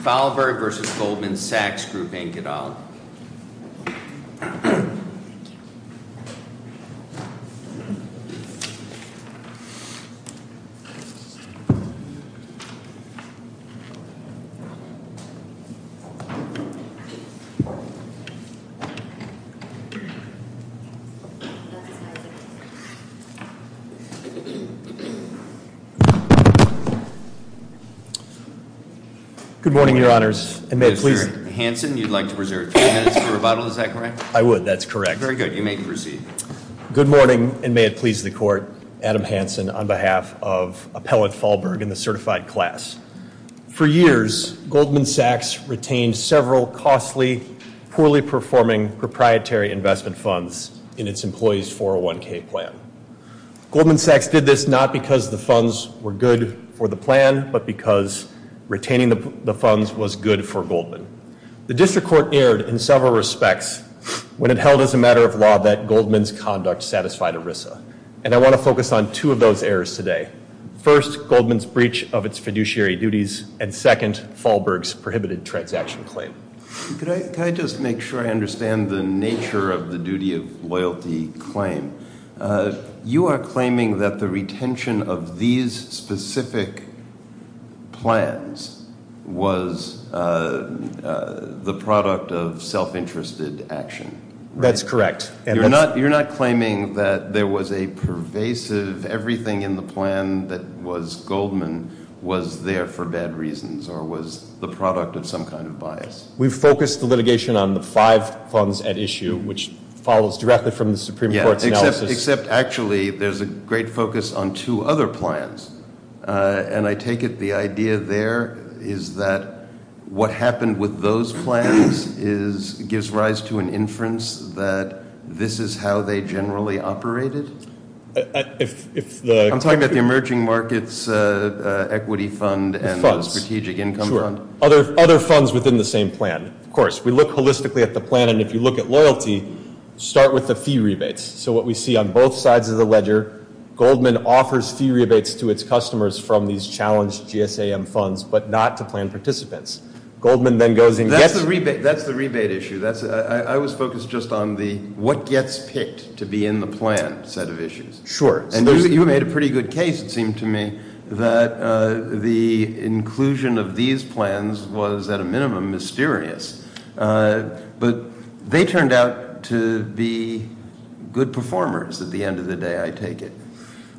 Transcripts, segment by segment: Foulberg v. Goldman Sachs Group, Inc., et al. Mr. Hanson, you'd like to reserve three minutes for rebuttal, is that correct? I would, that's correct. Very good, you may proceed. Good morning, and may it please the Court, Adam Hanson, on behalf of Appellant Foulberg and the certified class. For years, Goldman Sachs retained several costly, poorly performing proprietary investment funds in its Employees 401k plan. Goldman Sachs did this not because the funds were good for the plan, but because retaining the funds was good for Goldman. The District Court erred in several respects when it held as a matter of law that Goldman's conduct satisfied ERISA. And I want to focus on two of those errors today. First, Goldman's breach of its fiduciary duties, and second, Foulberg's prohibited transaction claim. Could I just make sure I understand the nature of the duty of loyalty claim? You are claiming that the retention of these specific plans was the product of self-interested action. That's correct. You're not claiming that there was a pervasive, everything in the plan that was Goldman was there for bad reasons or was the product of some kind of bias. We've focused the litigation on the five funds at issue, which follows directly from the Supreme Court's analysis. Yeah, except actually, there's a great focus on two other plans. And I take it the idea there is that what happened with those plans gives rise to an inference that this is how they generally operated? I'm talking about the Emerging Markets Equity Fund and Strategic Income Fund. Other funds within the same plan, of course. We look holistically at the plan, and if you look at loyalty, start with the fee rebates. So what we see on both sides of the ledger, Goldman offers fee rebates to its customers from these challenged GSAM funds, but not to plan participants. Goldman then goes and gets- That's the rebate issue. I was focused just on the what gets picked to be in the plan set of issues. Sure. And you made a pretty good case, it seemed to me, that the inclusion of these plans was, at a minimum, mysterious. But they turned out to be good performers at the end of the day, I take it.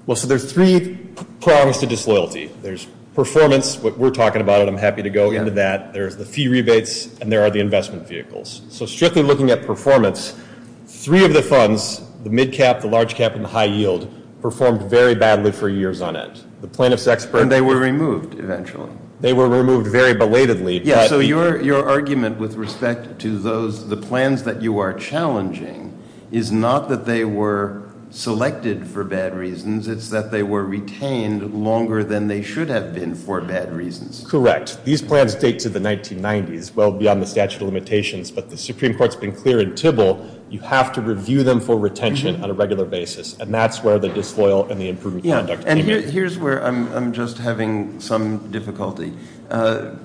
Well, so there's three prongs to disloyalty. There's performance, what we're talking about, and I'm happy to go into that. There's the fee rebates, and there are the investment vehicles. So strictly looking at performance, three of the funds, the mid cap, the large cap, and the high yield, performed very badly for years on end. The plaintiff's expert- And they were removed eventually. They were removed very belatedly. Yeah, so your argument with respect to the plans that you are challenging is not that they were selected for bad reasons. It's that they were retained longer than they should have been for bad reasons. Correct. These plans date to the 1990s, well beyond the statute of limitations. But the Supreme Court's been clear in Tybill, you have to review them for retention on a regular basis. And that's where the disloyal and the improved conduct came in. Here's where I'm just having some difficulty. The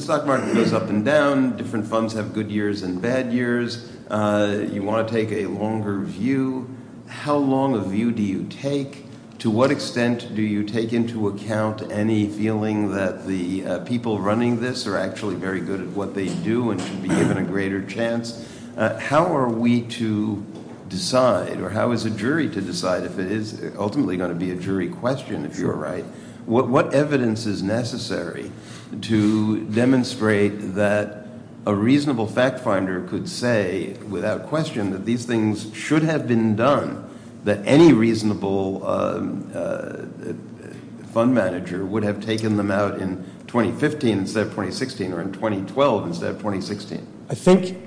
stock market goes up and down. Different funds have good years and bad years. You want to take a longer view. How long a view do you take? To what extent do you take into account any feeling that the people running this are actually very good at what they do and should be given a greater chance? How are we to decide or how is a jury to decide if it is ultimately going to be a jury question, if you're right? What evidence is necessary to demonstrate that a reasonable fact finder could say without question that these things should have been done, that any reasonable fund manager would have taken them out in 2015 instead of 2016 or in 2012 instead of 2016? I think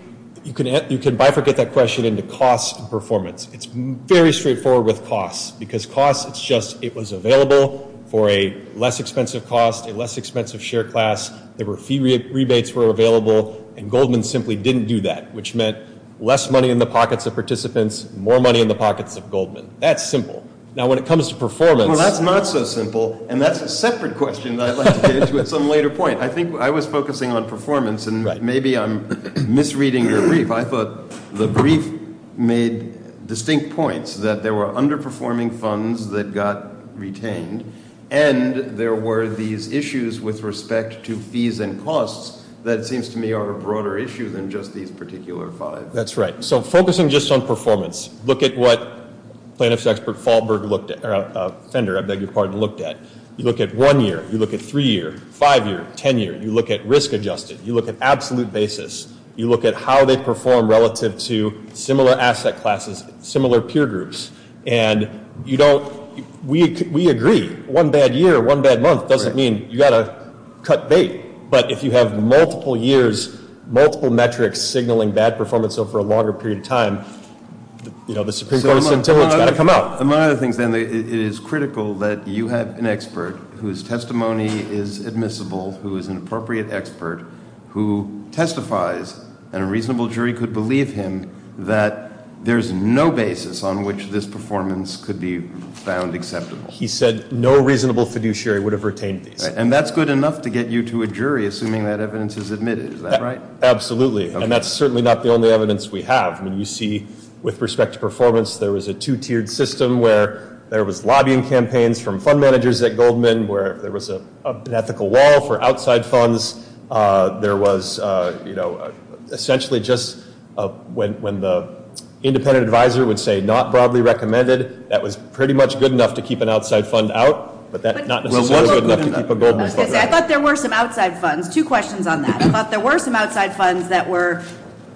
you can bifurcate that question into cost and performance. It's very straightforward with costs, because costs, it's just it was available for a less expensive cost, a less expensive share class. There were fee rebates were available, and Goldman simply didn't do that, which meant less money in the pockets of participants, more money in the pockets of Goldman. That's simple. Now, when it comes to performance. Well, that's not so simple, and that's a separate question that I'd like to get into at some later point. I think I was focusing on performance, and maybe I'm misreading your brief. I thought the brief made distinct points that there were underperforming funds that got retained, and there were these issues with respect to fees and costs that seems to me are a broader issue than just these particular five. That's right. So focusing just on performance, look at what plaintiff's expert Fender looked at. You look at one year. You look at three year, five year, ten year. You look at risk adjusted. You look at absolute basis. You look at how they perform relative to similar asset classes, similar peer groups. And you don't, we agree, one bad year, one bad month doesn't mean you've got to cut bait. But if you have multiple years, multiple metrics signaling bad performance over a longer period of time, you know, the Supreme Court sentiment's got to come out. Among other things, then, it is critical that you have an expert whose testimony is admissible, who is an appropriate expert, who testifies, and a reasonable jury could believe him, that there's no basis on which this performance could be found acceptable. He said no reasonable fiduciary would have retained these. And that's good enough to get you to a jury, assuming that evidence is admitted. Is that right? Absolutely. And that's certainly not the only evidence we have. I mean, you see, with respect to performance, there was a two-tiered system where there was lobbying campaigns from fund managers at Goldman, where there was an ethical wall for outside funds. There was, you know, essentially just when the independent advisor would say not broadly recommended, that was pretty much good enough to keep an outside fund out, but that's not necessarily good enough to keep a Goldman fund out. I thought there were some outside funds. Two questions on that. I thought there were some outside funds that were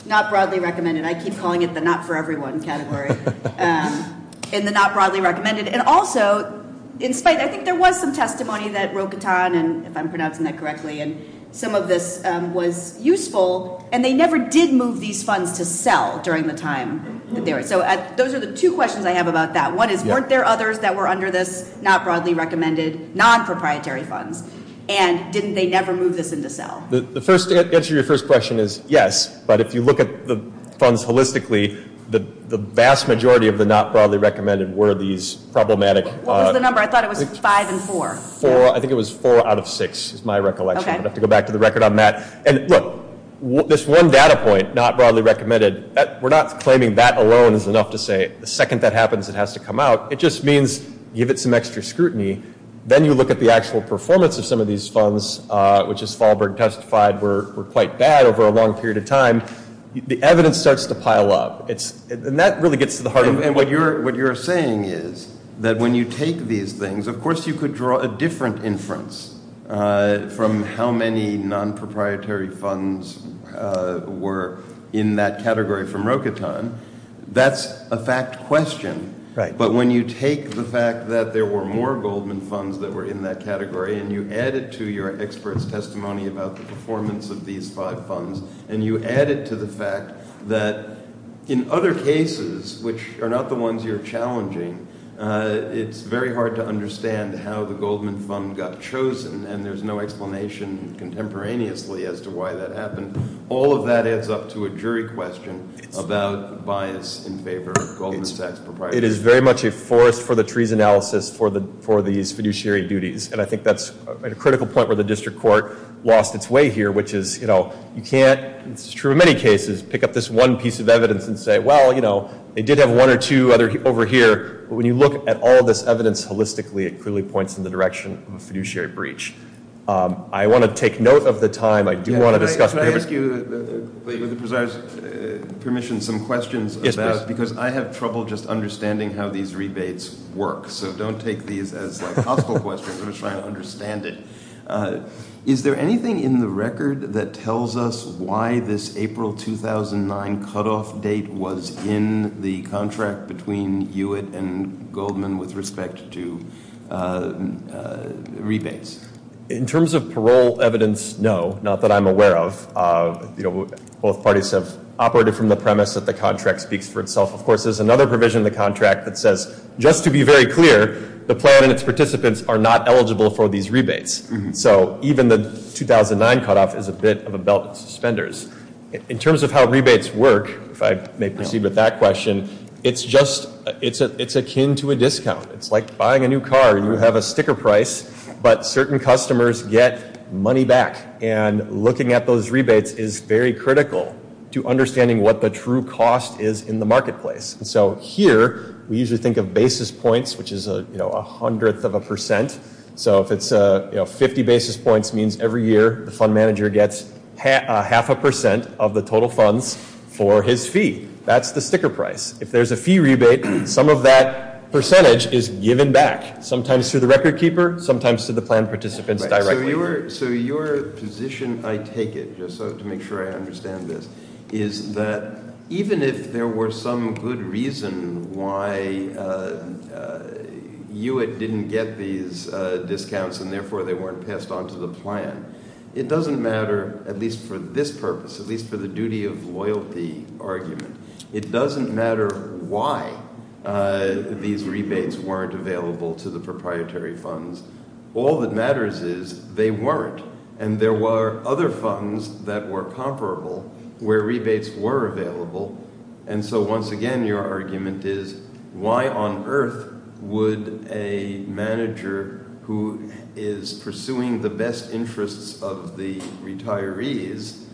not broadly recommended. And I keep calling it the not for everyone category in the not broadly recommended. And also, in spite, I think there was some testimony that Rocatan, if I'm pronouncing that correctly, and some of this was useful, and they never did move these funds to sell during the time that they were. So those are the two questions I have about that. One is weren't there others that were under this not broadly recommended, non-proprietary funds? And didn't they never move this into sell? The answer to your first question is yes. But if you look at the funds holistically, the vast majority of the not broadly recommended were these problematic. What was the number? I thought it was five and four. Four. I think it was four out of six is my recollection. Okay. I'm going to have to go back to the record on that. And, look, this one data point, not broadly recommended, we're not claiming that alone is enough to say the second that happens, it has to come out. It just means give it some extra scrutiny. Then you look at the actual performance of some of these funds, which, as Fahlberg testified, were quite bad over a long period of time. The evidence starts to pile up. And that really gets to the heart of it. And what you're saying is that when you take these things, of course you could draw a different inference from how many non-proprietary funds were in that category from Rokatan. That's a fact question. Right. But when you take the fact that there were more Goldman funds that were in that category and you add it to your expert's testimony about the performance of these five funds and you add it to the fact that in other cases, which are not the ones you're challenging, it's very hard to understand how the Goldman fund got chosen, and there's no explanation contemporaneously as to why that happened. All of that adds up to a jury question about bias in favor of Goldman Sachs proprietors. It is very much a forest for the trees analysis for these fiduciary duties. And I think that's a critical point where the district court lost its way here, which is you can't, as is true in many cases, pick up this one piece of evidence and say, well, you know, they did have one or two over here. But when you look at all this evidence holistically, it clearly points in the direction of a fiduciary breach. I want to take note of the time. I do want to discuss. Can I ask you, with the presider's permission, some questions? Yes, please. Because I have trouble just understanding how these rebates work, so don't take these as, like, hospital questions. I'm just trying to understand it. Is there anything in the record that tells us why this April 2009 cutoff date was in the contract between Hewitt and Goldman with respect to rebates? In terms of parole evidence, no, not that I'm aware of. Both parties have operated from the premise that the contract speaks for itself. Of course, there's another provision in the contract that says, just to be very clear, the plan and its participants are not eligible for these rebates. So even the 2009 cutoff is a bit of a belt in suspenders. In terms of how rebates work, if I may proceed with that question, it's akin to a discount. It's like buying a new car. You have a sticker price, but certain customers get money back. And looking at those rebates is very critical to understanding what the true cost is in the marketplace. So here we usually think of basis points, which is a hundredth of a percent. So if it's 50 basis points means every year the fund manager gets half a percent of the total funds for his fee. That's the sticker price. If there's a fee rebate, some of that percentage is given back, sometimes to the record keeper, sometimes to the plan participants directly. So your position, I take it, just to make sure I understand this, is that even if there were some good reason why Hewitt didn't get these discounts and therefore they weren't passed on to the plan, it doesn't matter, at least for this purpose, at least for the duty of loyalty argument, it doesn't matter why these rebates weren't available to the proprietary funds. All that matters is they weren't. And there were other funds that were comparable where rebates were available. And so once again your argument is why on earth would a manager who is pursuing the best interests of the retirees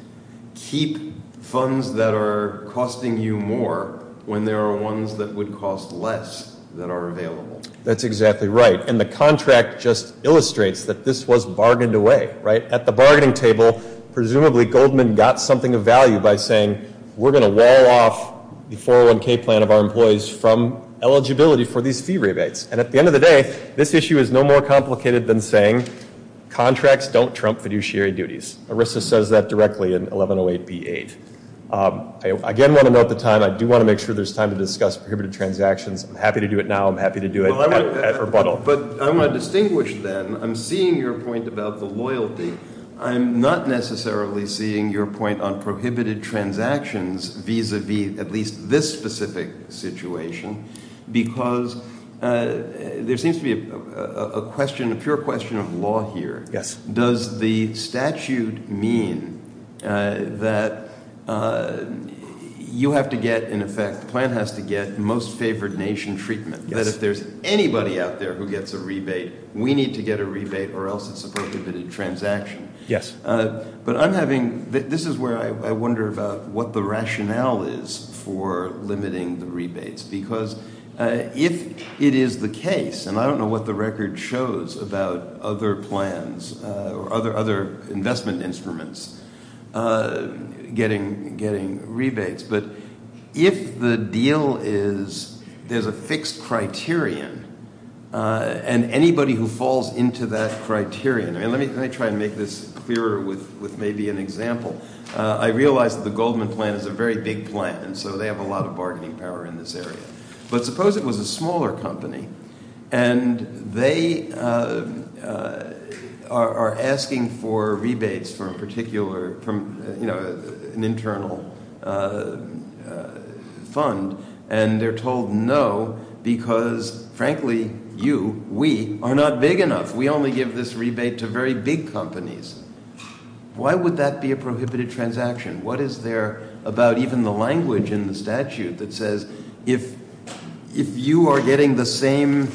keep funds that are costing you more when there are ones that would cost less that are available? That's exactly right. And the contract just illustrates that this was bargained away, right? At the bargaining table, presumably Goldman got something of value by saying, we're going to wall off the 401K plan of our employees from eligibility for these fee rebates. And at the end of the day, this issue is no more complicated than saying contracts don't trump fiduciary duties. ERISA says that directly in 1108B8. I again want to note the time. I do want to make sure there's time to discuss prohibited transactions. I'm happy to do it now. I'm happy to do it at rebuttal. But I want to distinguish then, I'm seeing your point about the loyalty. I'm not necessarily seeing your point on prohibited transactions vis-a-vis at least this specific situation because there seems to be a question, a pure question of law here. Does the statute mean that you have to get, in effect, the plan has to get most favored nation treatment? That if there's anybody out there who gets a rebate, we need to get a rebate or else it's a prohibited transaction. Yes. But I'm having, this is where I wonder about what the rationale is for limiting the rebates because if it is the case, and I don't know what the record shows about other plans or other investment instruments getting rebates, but if the deal is there's a fixed criterion and anybody who falls into that criterion, and let me try and make this clearer with maybe an example. I realize that the Goldman plan is a very big plan, so they have a lot of bargaining power in this area. But suppose it was a smaller company and they are asking for rebates for a particular, you know, an internal fund, and they're told no because, frankly, you, we, are not big enough. We only give this rebate to very big companies. Why would that be a prohibited transaction? What is there about even the language in the statute that says if you are getting the same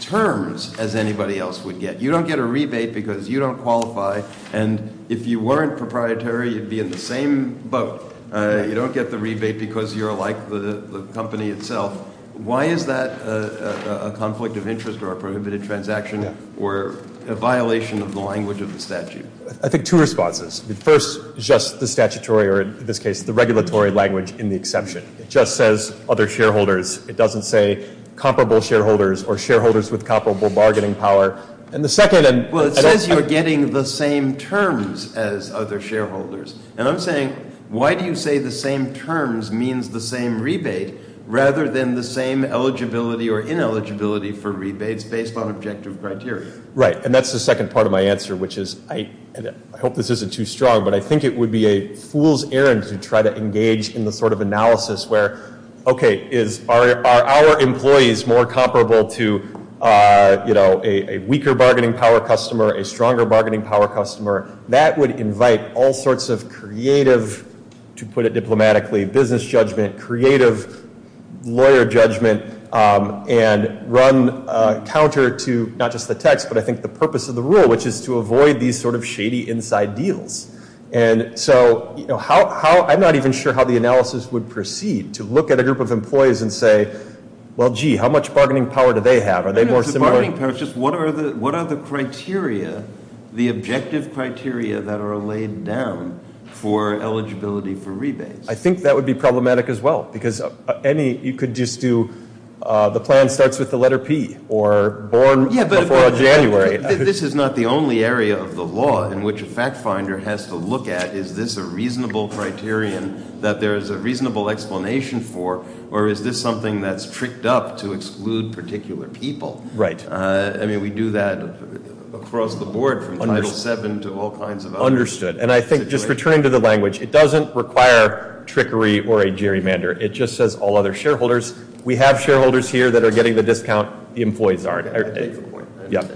terms as anybody else would get, you don't get a rebate because you don't qualify, and if you weren't proprietary, you'd be in the same boat. You don't get the rebate because you're like the company itself. Why is that a conflict of interest or a prohibited transaction or a violation of the language of the statute? I think two responses. The first is just the statutory or, in this case, the regulatory language in the exception. It just says other shareholders. It doesn't say comparable shareholders or shareholders with comparable bargaining power. And the second and- Well, it says you're getting the same terms as other shareholders, and I'm saying why do you say the same terms means the same rebate rather than the same eligibility or ineligibility for rebates based on objective criteria? Right, and that's the second part of my answer, which is I hope this isn't too strong, but I think it would be a fool's errand to try to engage in the sort of analysis where, okay, are our employees more comparable to a weaker bargaining power customer, a stronger bargaining power customer? That would invite all sorts of creative, to put it diplomatically, business judgment, creative lawyer judgment, and run counter to not just the text, but I think the purpose of the rule, which is to avoid these sort of shady inside deals. And so I'm not even sure how the analysis would proceed to look at a group of employees and say, well, gee, how much bargaining power do they have? No, no, it's the bargaining power. It's just what are the criteria, the objective criteria that are laid down for eligibility for rebates? I think that would be problematic as well, because any, you could just do the plan starts with the letter P, or born before January. Yeah, but this is not the only area of the law in which a fact finder has to look at, is this a reasonable criterion that there is a reasonable explanation for, or is this something that's tricked up to exclude particular people? Right. I mean, we do that across the board from Title VII to all kinds of other situations. Understood. And I think, just returning to the language, it doesn't require trickery or a gerrymander. It just says all other shareholders. We have shareholders here that are getting the discount. The employees aren't. I take the point. Yeah.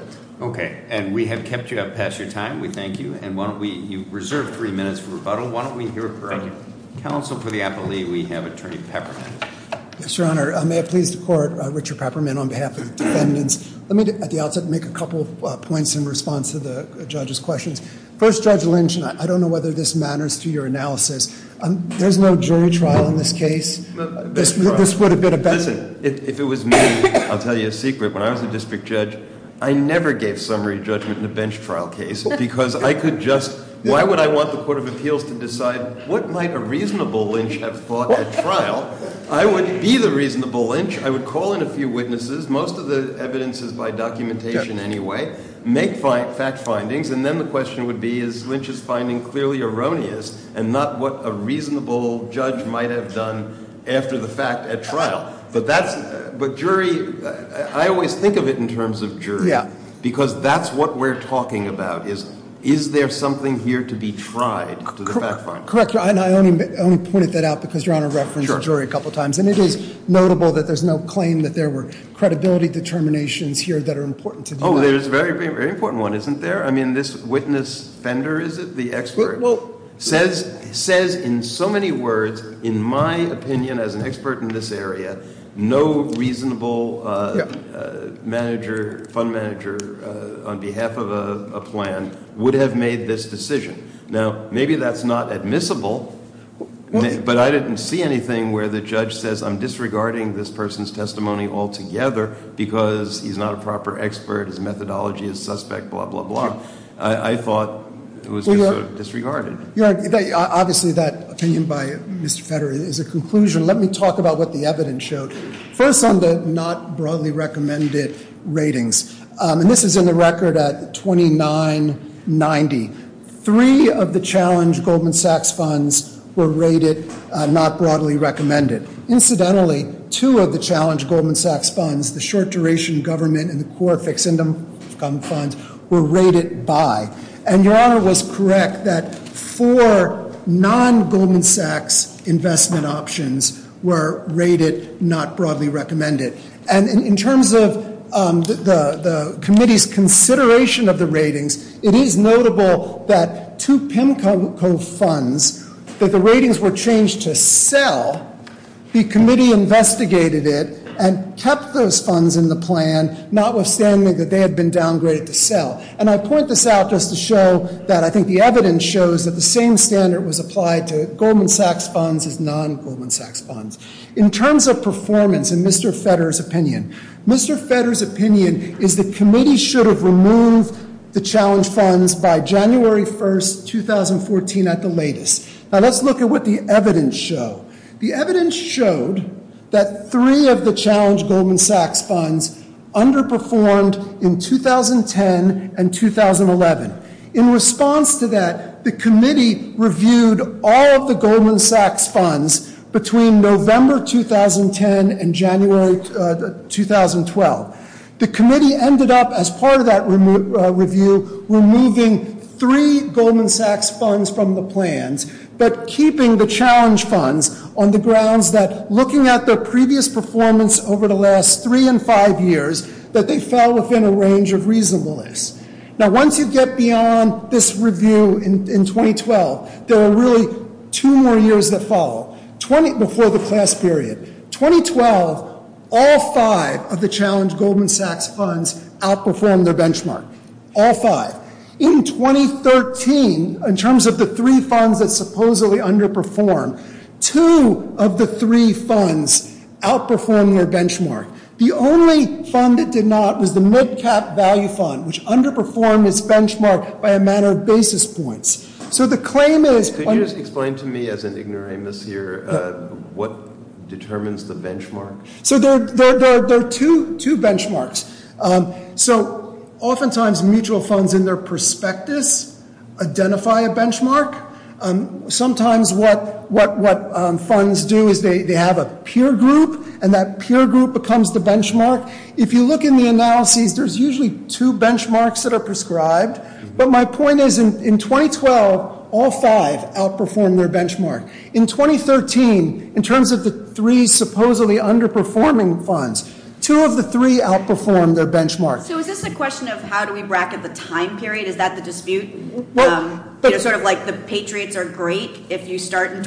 Okay. And we have kept you up past your time. We thank you. And why don't we, you've reserved three minutes for rebuttal. Why don't we hear from counsel for the appellee? We have Attorney Peppermint. Yes, Your Honor. May it please the Court, Richard Peppermint, on behalf of the defendants. Let me, at the outset, make a couple of points in response to the judge's questions. First, Judge Lynch, and I don't know whether this matters to your analysis. There's no jury trial in this case. This would have been a better case. Listen, if it was me, I'll tell you a secret. When I was a district judge, I never gave summary judgment in a bench trial case because I could just, why would I want the Court of Appeals to decide what might a reasonable lynch have thought at trial? I would be the reasonable lynch. I would call in a few witnesses, most of the evidence is by documentation anyway, make fact findings, and then the question would be, is Lynch's finding clearly erroneous and not what a reasonable judge might have done after the fact at trial? But that's, but jury, I always think of it in terms of jury. Yeah. Because that's what we're talking about is, is there something here to be tried to the fact finder? Correct. I only pointed that out because Your Honor referenced jury a couple of times. And it is notable that there's no claim that there were credibility determinations here that are important to the United States. Well, there's a very, very important one, isn't there? I mean, this witness fender, is it, the expert? Well. Says in so many words, in my opinion as an expert in this area, no reasonable manager, fund manager on behalf of a plan would have made this decision. Now, maybe that's not admissible, but I didn't see anything where the judge says, I'm disregarding this person's testimony altogether because he's not a proper expert, his methodology is suspect, blah, blah, blah. I thought it was sort of disregarded. Obviously, that opinion by Mr. Federer is a conclusion. Let me talk about what the evidence showed. First on the not broadly recommended ratings, and this is in the record at 2990. Three of the challenge Goldman Sachs funds were rated not broadly recommended. Incidentally, two of the challenge Goldman Sachs funds, the short duration government and the core fixed income funds were rated by. And Your Honor was correct that four non-Goldman Sachs investment options were rated not broadly recommended. And in terms of the committee's consideration of the ratings, it is notable that two PIMCO funds, that the ratings were changed to sell, the committee investigated it and kept those funds in the plan, notwithstanding that they had been downgraded to sell. And I point this out just to show that I think the evidence shows that the same standard was applied to Goldman Sachs funds as non-Goldman Sachs funds. In terms of performance, in Mr. Federer's opinion, Mr. Federer's opinion is the committee should have removed the challenge funds by January 1st, 2014 at the latest. Now let's look at what the evidence showed. The evidence showed that three of the challenge Goldman Sachs funds underperformed in 2010 and 2011. In response to that, the committee reviewed all of the Goldman Sachs funds between November 2010 and January 2012. The committee ended up, as part of that review, removing three Goldman Sachs funds from the plans, but keeping the challenge funds on the grounds that looking at their previous performance over the last three and five years, that they fell within a range of reasonableness. Now once you get beyond this review in 2012, there are really two more years that follow, before the class period. 2012, all five of the challenge Goldman Sachs funds outperformed their benchmark. All five. In 2013, in terms of the three funds that supposedly underperformed, two of the three funds outperformed their benchmark. The only fund that did not was the mid-cap value fund, which underperformed its benchmark by a matter of basis points. So the claim is- Could you just explain to me, as an ignoramus here, what determines the benchmark? So there are two benchmarks. So oftentimes mutual funds in their prospectus identify a benchmark. Sometimes what funds do is they have a peer group, and that peer group becomes the benchmark. If you look in the analyses, there's usually two benchmarks that are prescribed. But my point is, in 2012, all five outperformed their benchmark. In 2013, in terms of the three supposedly underperforming funds, two of the three outperformed their benchmark. So is this a question of how do we bracket the time period? Is that the dispute? Sort of like the patriots are great if you start in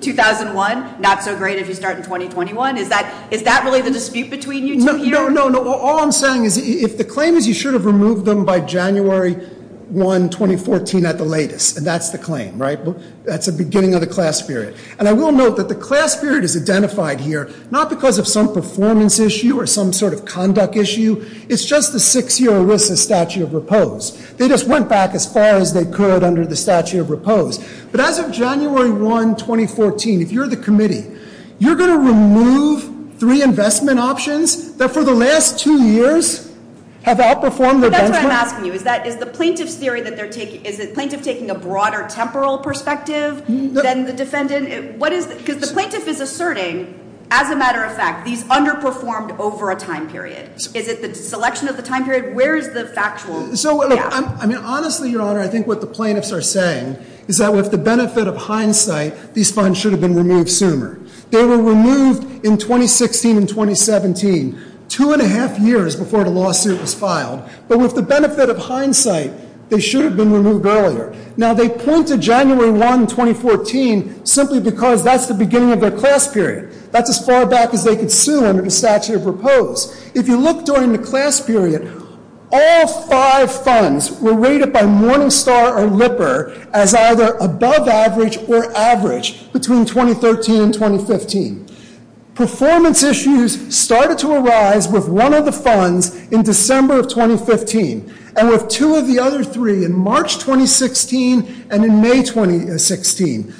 2001, not so great if you start in 2021? Is that really the dispute between you two here? No, no, no. All I'm saying is if the claim is you should have removed them by January 1, 2014 at the latest, and that's the claim, right? That's the beginning of the class period. And I will note that the class period is identified here not because of some performance issue or some sort of conduct issue. It's just the six-year ERISA statute of repose. They just went back as far as they could under the statute of repose. But as of January 1, 2014, if you're the committee, you're going to remove three investment options that for the last two years have outperformed their benchmark? That's what I'm asking you. Is the plaintiff's theory that they're taking – is the plaintiff taking a broader temporal perspective than the defendant? Because the plaintiff is asserting, as a matter of fact, these underperformed over a time period. Is it the selection of the time period? Where is the factual – yeah. So, I mean, honestly, Your Honor, I think what the plaintiffs are saying is that with the benefit of hindsight, these funds should have been removed sooner. They were removed in 2016 and 2017, two and a half years before the lawsuit was filed. But with the benefit of hindsight, they should have been removed earlier. Now, they point to January 1, 2014 simply because that's the beginning of their class period. That's as far back as they could sue under the statute of repose. If you look during the class period, all five funds were rated by Morningstar or Lipper as either above average or average between 2013 and 2015. Performance issues started to arise with one of the funds in December of 2015 and with two of the other three in March 2016 and in May 2016.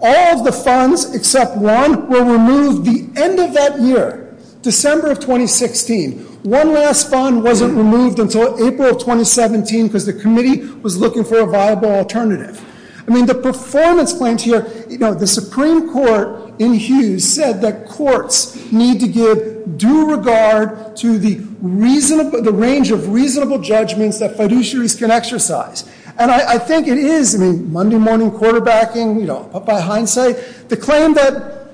All of the funds except one were removed the end of that year, December of 2016. One last fund wasn't removed until April of 2017 because the committee was looking for a viable alternative. I mean, the performance claims here – you know, the Supreme Court in Hughes said that courts need to give due regard to the range of reasonable judgments that fiduciaries can exercise. And I think it is – I mean, Monday morning quarterbacking, you know, put by hindsight – the claim that,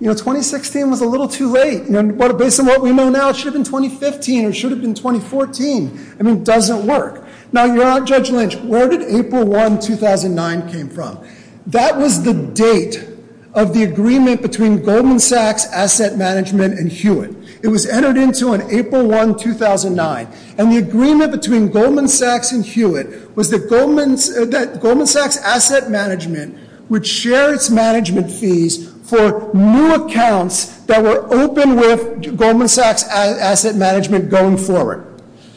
you know, 2016 was a little too late. You know, based on what we know now, it should have been 2015 or it should have been 2014. I mean, it doesn't work. Now, Your Honor, Judge Lynch, where did April 1, 2009 came from? That was the date of the agreement between Goldman Sachs, Asset Management, and Hewitt. It was entered into on April 1, 2009. And the agreement between Goldman Sachs and Hewitt was that Goldman Sachs Asset Management would share its management fees for new accounts that were open with Goldman Sachs Asset Management going forward.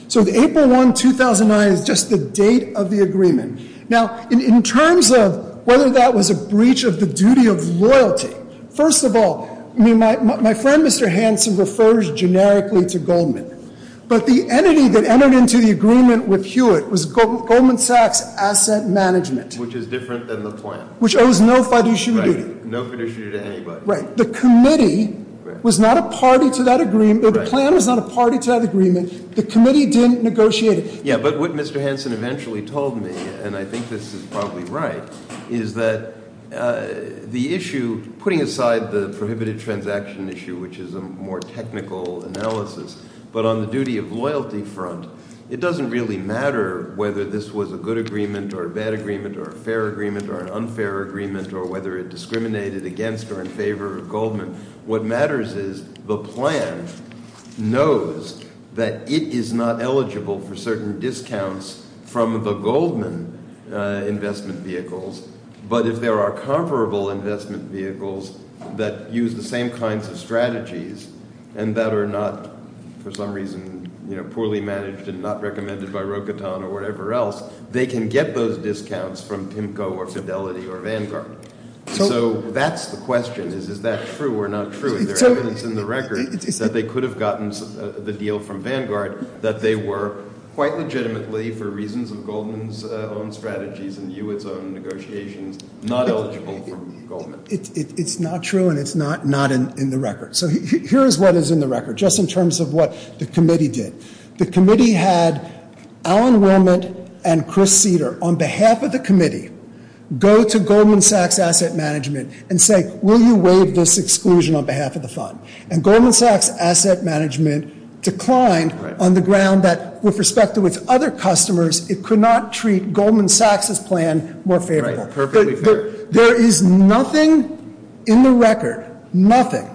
So April 1, 2009 is just the date of the agreement. Now, in terms of whether that was a breach of the duty of loyalty. First of all, my friend, Mr. Hanson, refers generically to Goldman. But the entity that entered into the agreement with Hewitt was Goldman Sachs Asset Management. Which is different than the plan. Which owes no fiduciary duty. Right, no fiduciary duty to anybody. Right. The committee was not a party to that agreement. The plan was not a party to that agreement. The committee didn't negotiate it. Yeah, but what Mr. Hanson eventually told me, and I think this is probably right, is that the issue, putting aside the prohibited transaction issue, which is a more technical analysis. But on the duty of loyalty front, it doesn't really matter whether this was a good agreement or a bad agreement or a fair agreement or an unfair agreement or whether it discriminated against or in favor of Goldman. What matters is the plan knows that it is not eligible for certain discounts from the Goldman investment vehicles. But if there are comparable investment vehicles that use the same kinds of strategies and that are not, for some reason, poorly managed and not recommended by Rocatan or whatever else. They can get those discounts from PIMCO or Fidelity or Vanguard. So that's the question, is that true or not true? And there's evidence in the record that they could have gotten the deal from Vanguard that they were quite legitimately, for reasons of Goldman's own strategies and Hewitt's own negotiations, not eligible for Goldman. It's not true and it's not in the record. So here's what is in the record, just in terms of what the committee did. The committee had Alan Wilmot and Chris Cedar on behalf of the committee go to Goldman Sachs Asset Management and say, will you waive this exclusion on behalf of the fund? And Goldman Sachs Asset Management declined on the ground that, with respect to its other customers, it could not treat Goldman Sachs' plan more favorable. There is nothing in the record, nothing,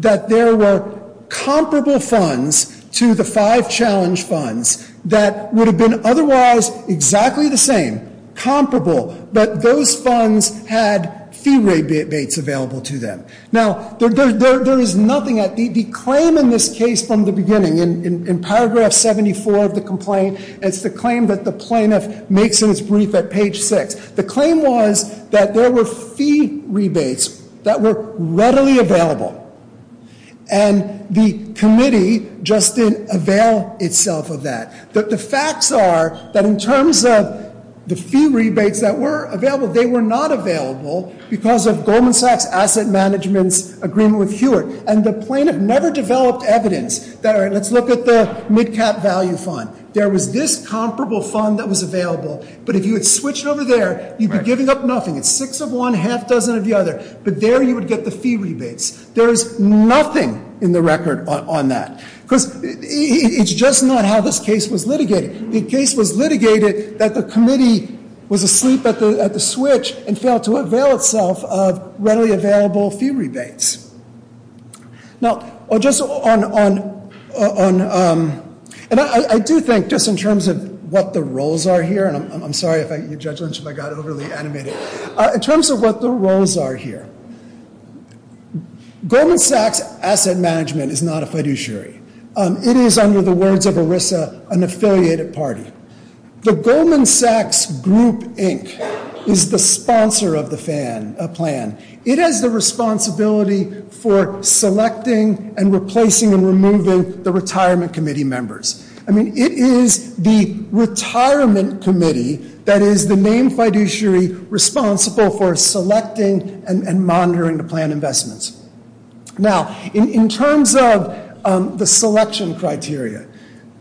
that there were comparable funds to the five challenge funds that would have been otherwise exactly the same, comparable. But those funds had fee rebates available to them. Now, there is nothing that the claim in this case from the beginning, in paragraph 74 of the complaint, it's the claim that the plaintiff makes in his brief at page six. The claim was that there were fee rebates that were readily available. And the committee just didn't avail itself of that. The facts are that in terms of the fee rebates that were available, they were not available because of Goldman Sachs Asset Management's agreement with Hewitt. And the plaintiff never developed evidence that, all right, let's look at the mid-cap value fund. There was this comparable fund that was available, but if you had switched over there, you'd be giving up nothing. It's six of one, half dozen of the other. But there you would get the fee rebates. There is nothing in the record on that because it's just not how this case was litigated. The case was litigated that the committee was asleep at the switch and failed to avail itself of readily available fee rebates. Now, just on, and I do think just in terms of what the roles are here, and I'm sorry if I, Judge Lynch, if I got overly animated. In terms of what the roles are here, Goldman Sachs Asset Management is not a fiduciary. It is, under the words of ERISA, an affiliated party. The Goldman Sachs Group Inc. is the sponsor of the plan. It has the responsibility for selecting and replacing and removing the retirement committee members. I mean, it is the retirement committee that is the named fiduciary responsible for selecting and monitoring the plan investments. Now, in terms of the selection criteria,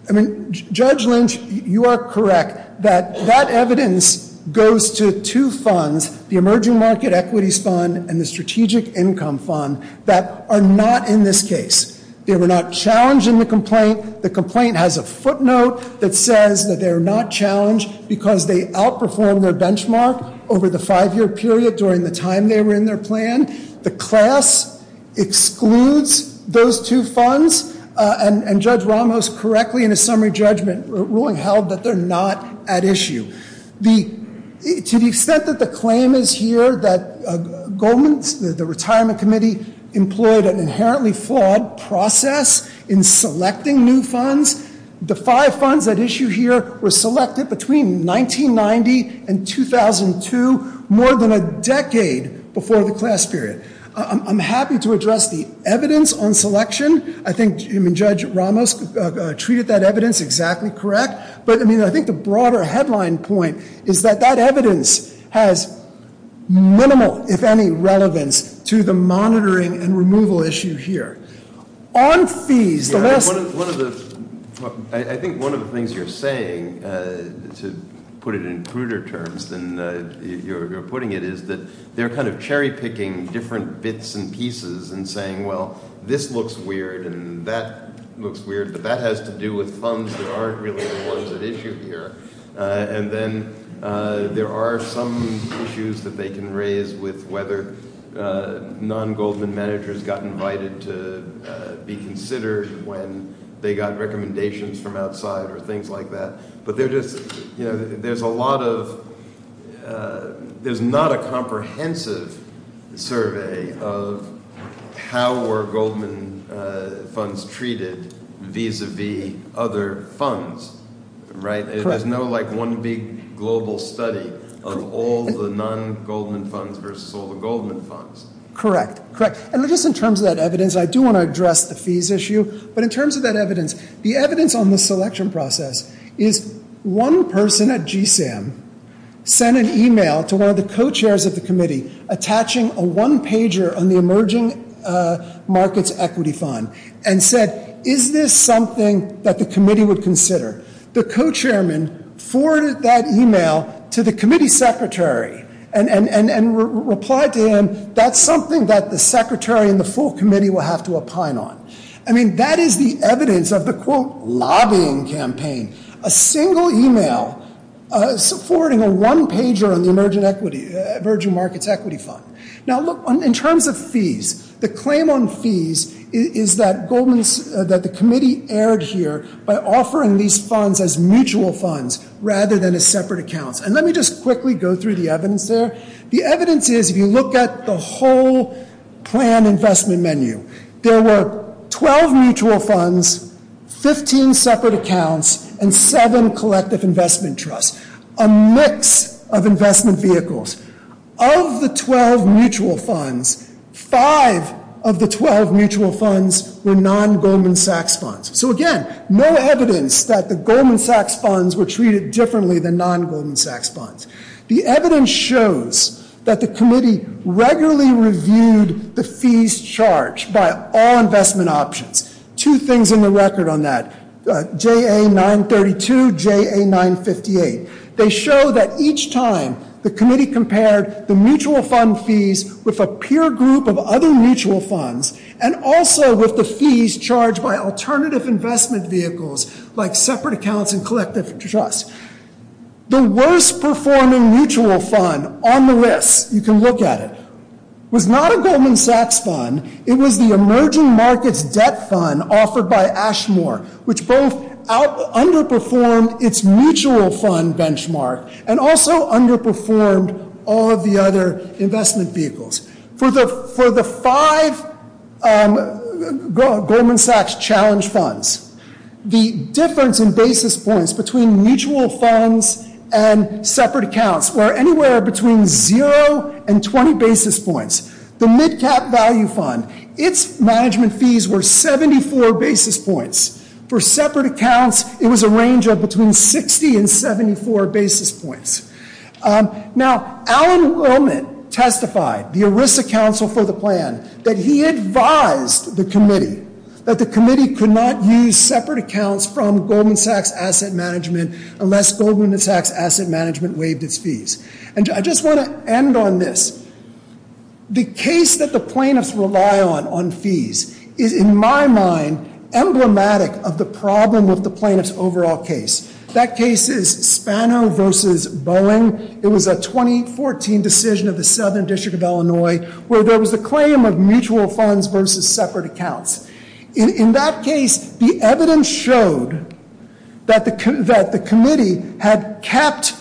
I mean, Judge Lynch, you are correct that that evidence goes to two funds, the Emerging Market Equities Fund and the Strategic Income Fund, that are not in this case. They were not challenged in the complaint. The complaint has a footnote that says that they are not challenged because they outperformed their benchmark over the five-year period during the time they were in their plan. The class excludes those two funds, and Judge Ramos correctly in his summary judgment ruling held that they're not at issue. To the extent that the claim is here that the retirement committee employed an inherently flawed process in selecting new funds, the five funds at issue here were selected between 1990 and 2002, more than a decade before the class period. I'm happy to address the evidence on selection. I think Judge Ramos treated that evidence exactly correct. But, I mean, I think the broader headline point is that that evidence has minimal, if any, relevance to the monitoring and removal issue here. On fees, the less- I think one of the things you're saying, to put it in pruder terms than you're putting it, is that they're kind of cherry-picking different bits and pieces and saying, well, this looks weird and that looks weird, but that has to do with funds that aren't really the ones at issue here. And then there are some issues that they can raise with whether non-Goldman managers got invited to be considered when they got recommendations from outside or things like that. But there's not a comprehensive survey of how were Goldman funds treated vis-a-vis other funds, right? There's no one big global study of all the non-Goldman funds versus all the Goldman funds. Correct, correct. And just in terms of that evidence, I do want to address the fees issue. But in terms of that evidence, the evidence on the selection process is one person at GSAM sent an email to one of the co-chairs of the committee attaching a one-pager on the Emerging Markets Equity Fund and said, is this something that the committee would consider? The co-chairman forwarded that email to the committee secretary and replied to him, that's something that the secretary and the full committee will have to opine on. I mean, that is the evidence of the, quote, lobbying campaign. A single email forwarding a one-pager on the Emerging Markets Equity Fund. Now look, in terms of fees, the claim on fees is that the committee erred here by offering these funds as mutual funds rather than as separate accounts. And let me just quickly go through the evidence there. The evidence is, if you look at the whole plan investment menu, there were 12 mutual funds, 15 separate accounts, and 7 collective investment trusts. A mix of investment vehicles. Of the 12 mutual funds, 5 of the 12 mutual funds were non-Goldman Sachs funds. So again, no evidence that the Goldman Sachs funds were treated differently than non-Goldman Sachs funds. The evidence shows that the committee regularly reviewed the fees charged by all investment options. Two things in the record on that. JA-932, JA-958. They show that each time the committee compared the mutual fund fees with a peer group of other mutual funds, and also with the fees charged by alternative investment vehicles like separate accounts and collective trusts. The worst performing mutual fund on the list, you can look at it, was not a Goldman Sachs fund. It was the Emerging Markets Debt Fund offered by Ashmore, which both underperformed its mutual fund benchmark and also underperformed all of the other investment vehicles. For the 5 Goldman Sachs challenge funds, the difference in basis points between mutual funds and separate accounts were anywhere between 0 and 20 basis points. The MidCap Value Fund, its management fees were 74 basis points. For separate accounts, it was a range of between 60 and 74 basis points. Now, Alan Willman testified, the ERISA counsel for the plan, that he advised the committee that the committee could not use separate accounts from Goldman Sachs Asset Management unless Goldman Sachs Asset Management waived its fees. And I just want to end on this. The case that the plaintiffs rely on on fees is, in my mind, emblematic of the problem of the plaintiff's overall case. That case is Spano versus Boeing. It was a 2014 decision of the Southern District of Illinois where there was a claim of mutual funds versus separate accounts. In that case, the evidence showed that the committee had kept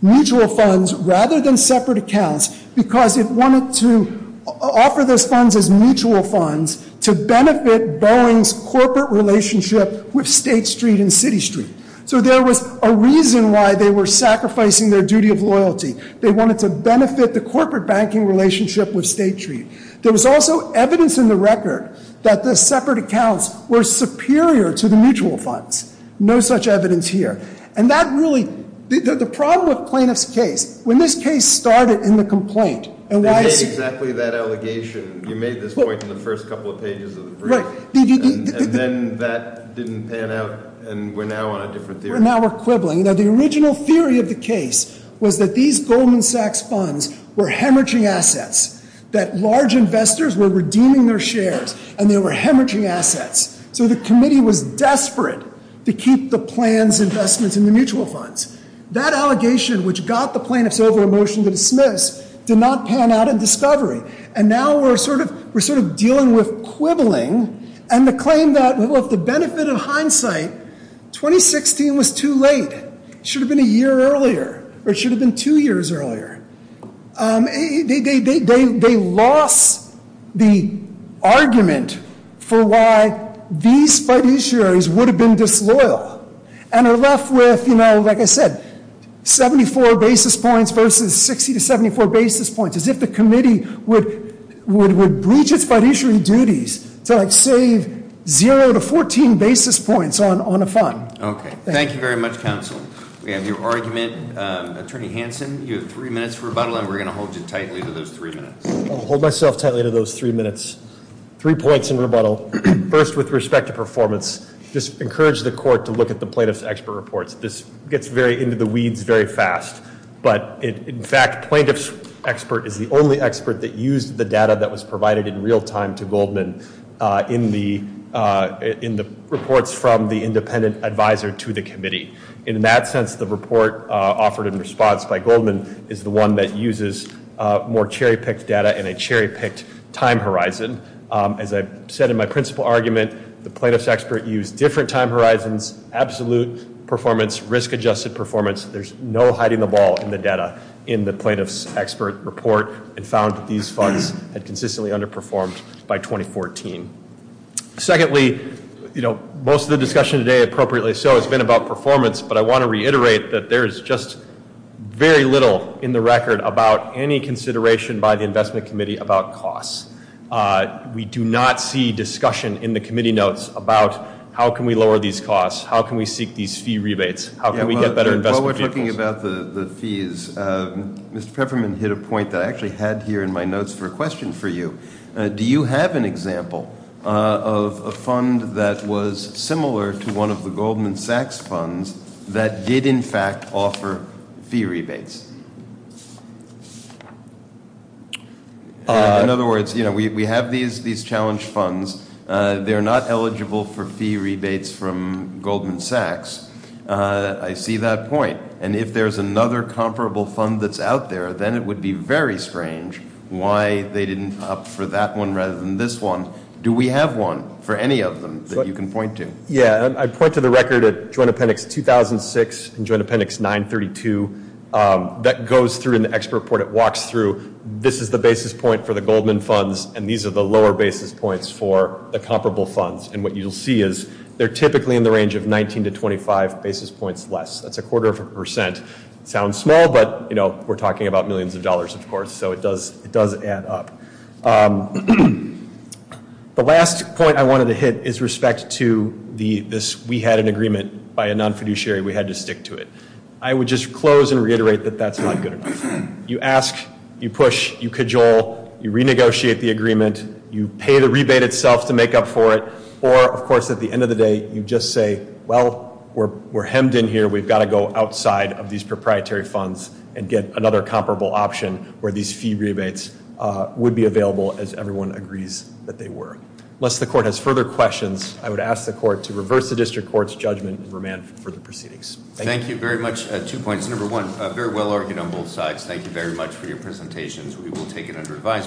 mutual funds rather than separate accounts because it wanted to offer those funds as mutual funds to benefit Boeing's corporate relationship with State Street and City Street. So there was a reason why they were sacrificing their duty of loyalty. They wanted to benefit the corporate banking relationship with State Street. There was also evidence in the record that the separate accounts were superior to the mutual funds. No such evidence here. And that really, the problem with plaintiff's case, when this case started in the complaint- They made exactly that allegation. And then that didn't pan out, and we're now on a different theory. Now we're quibbling. Now, the original theory of the case was that these Goldman Sachs funds were hemorrhaging assets, that large investors were redeeming their shares, and they were hemorrhaging assets. So the committee was desperate to keep the plans, investments, and the mutual funds. That allegation, which got the plaintiffs over a motion to dismiss, did not pan out in discovery. And now we're sort of dealing with quibbling. And the claim that, well, for the benefit of hindsight, 2016 was too late. It should have been a year earlier, or it should have been two years earlier. They lost the argument for why these fiduciaries would have been disloyal. And are left with, you know, like I said, 74 basis points versus 60 to 74 basis points. As if the committee would breach its fiduciary duties to, like, save zero to 14 basis points on a fund. Okay. Thank you very much, counsel. We have your argument. Attorney Hanson, you have three minutes for rebuttal, and we're going to hold you tightly to those three minutes. I'll hold myself tightly to those three minutes. Three points in rebuttal. First, with respect to performance, just encourage the court to look at the plaintiff's expert reports. This gets into the weeds very fast. But, in fact, plaintiff's expert is the only expert that used the data that was provided in real time to Goldman in the reports from the independent advisor to the committee. And in that sense, the report offered in response by Goldman is the one that uses more cherry-picked data and a cherry-picked time horizon. As I said in my principal argument, the plaintiff's expert used different time horizons, absolute performance, risk-adjusted performance. There's no hiding the ball in the data in the plaintiff's expert report and found that these funds had consistently underperformed by 2014. Secondly, you know, most of the discussion today, appropriately so, has been about performance. But I want to reiterate that there is just very little in the record about any consideration by the investment committee about costs. We do not see discussion in the committee notes about how can we lower these costs, how can we seek these fee rebates, how can we get better investment vehicles. While we're talking about the fees, Mr. Peppermint hit a point that I actually had here in my notes for a question for you. Do you have an example of a fund that was similar to one of the Goldman Sachs funds that did in fact offer fee rebates? In other words, you know, we have these challenge funds. They're not eligible for fee rebates from Goldman Sachs. I see that point. And if there's another comparable fund that's out there, then it would be very strange why they didn't opt for that one rather than this one. Do we have one for any of them that you can point to? Yeah, I point to the record at Joint Appendix 2006 and Joint Appendix 932. That goes through in the expert report. It walks through. This is the basis point for the Goldman funds, and these are the lower basis points for the comparable funds. And what you'll see is they're typically in the range of 19 to 25 basis points less. That's a quarter of a percent. It sounds small, but, you know, we're talking about millions of dollars, of course, so it does add up. The last point I wanted to hit is respect to this we had an agreement by a non-fiduciary. We had to stick to it. I would just close and reiterate that that's not good enough. You ask, you push, you cajole, you renegotiate the agreement, you pay the rebate itself to make up for it, or, of course, at the end of the day, you just say, well, we're hemmed in here. We've got to go outside of these proprietary funds and get another comparable option where these fee rebates would be available, as everyone agrees that they were. Unless the court has further questions, I would ask the court to reverse the district court's judgment and remand further proceedings. Thank you very much. Two points. Number one, very well argued on both sides. Thank you very much for your presentations. We will take it under advisement.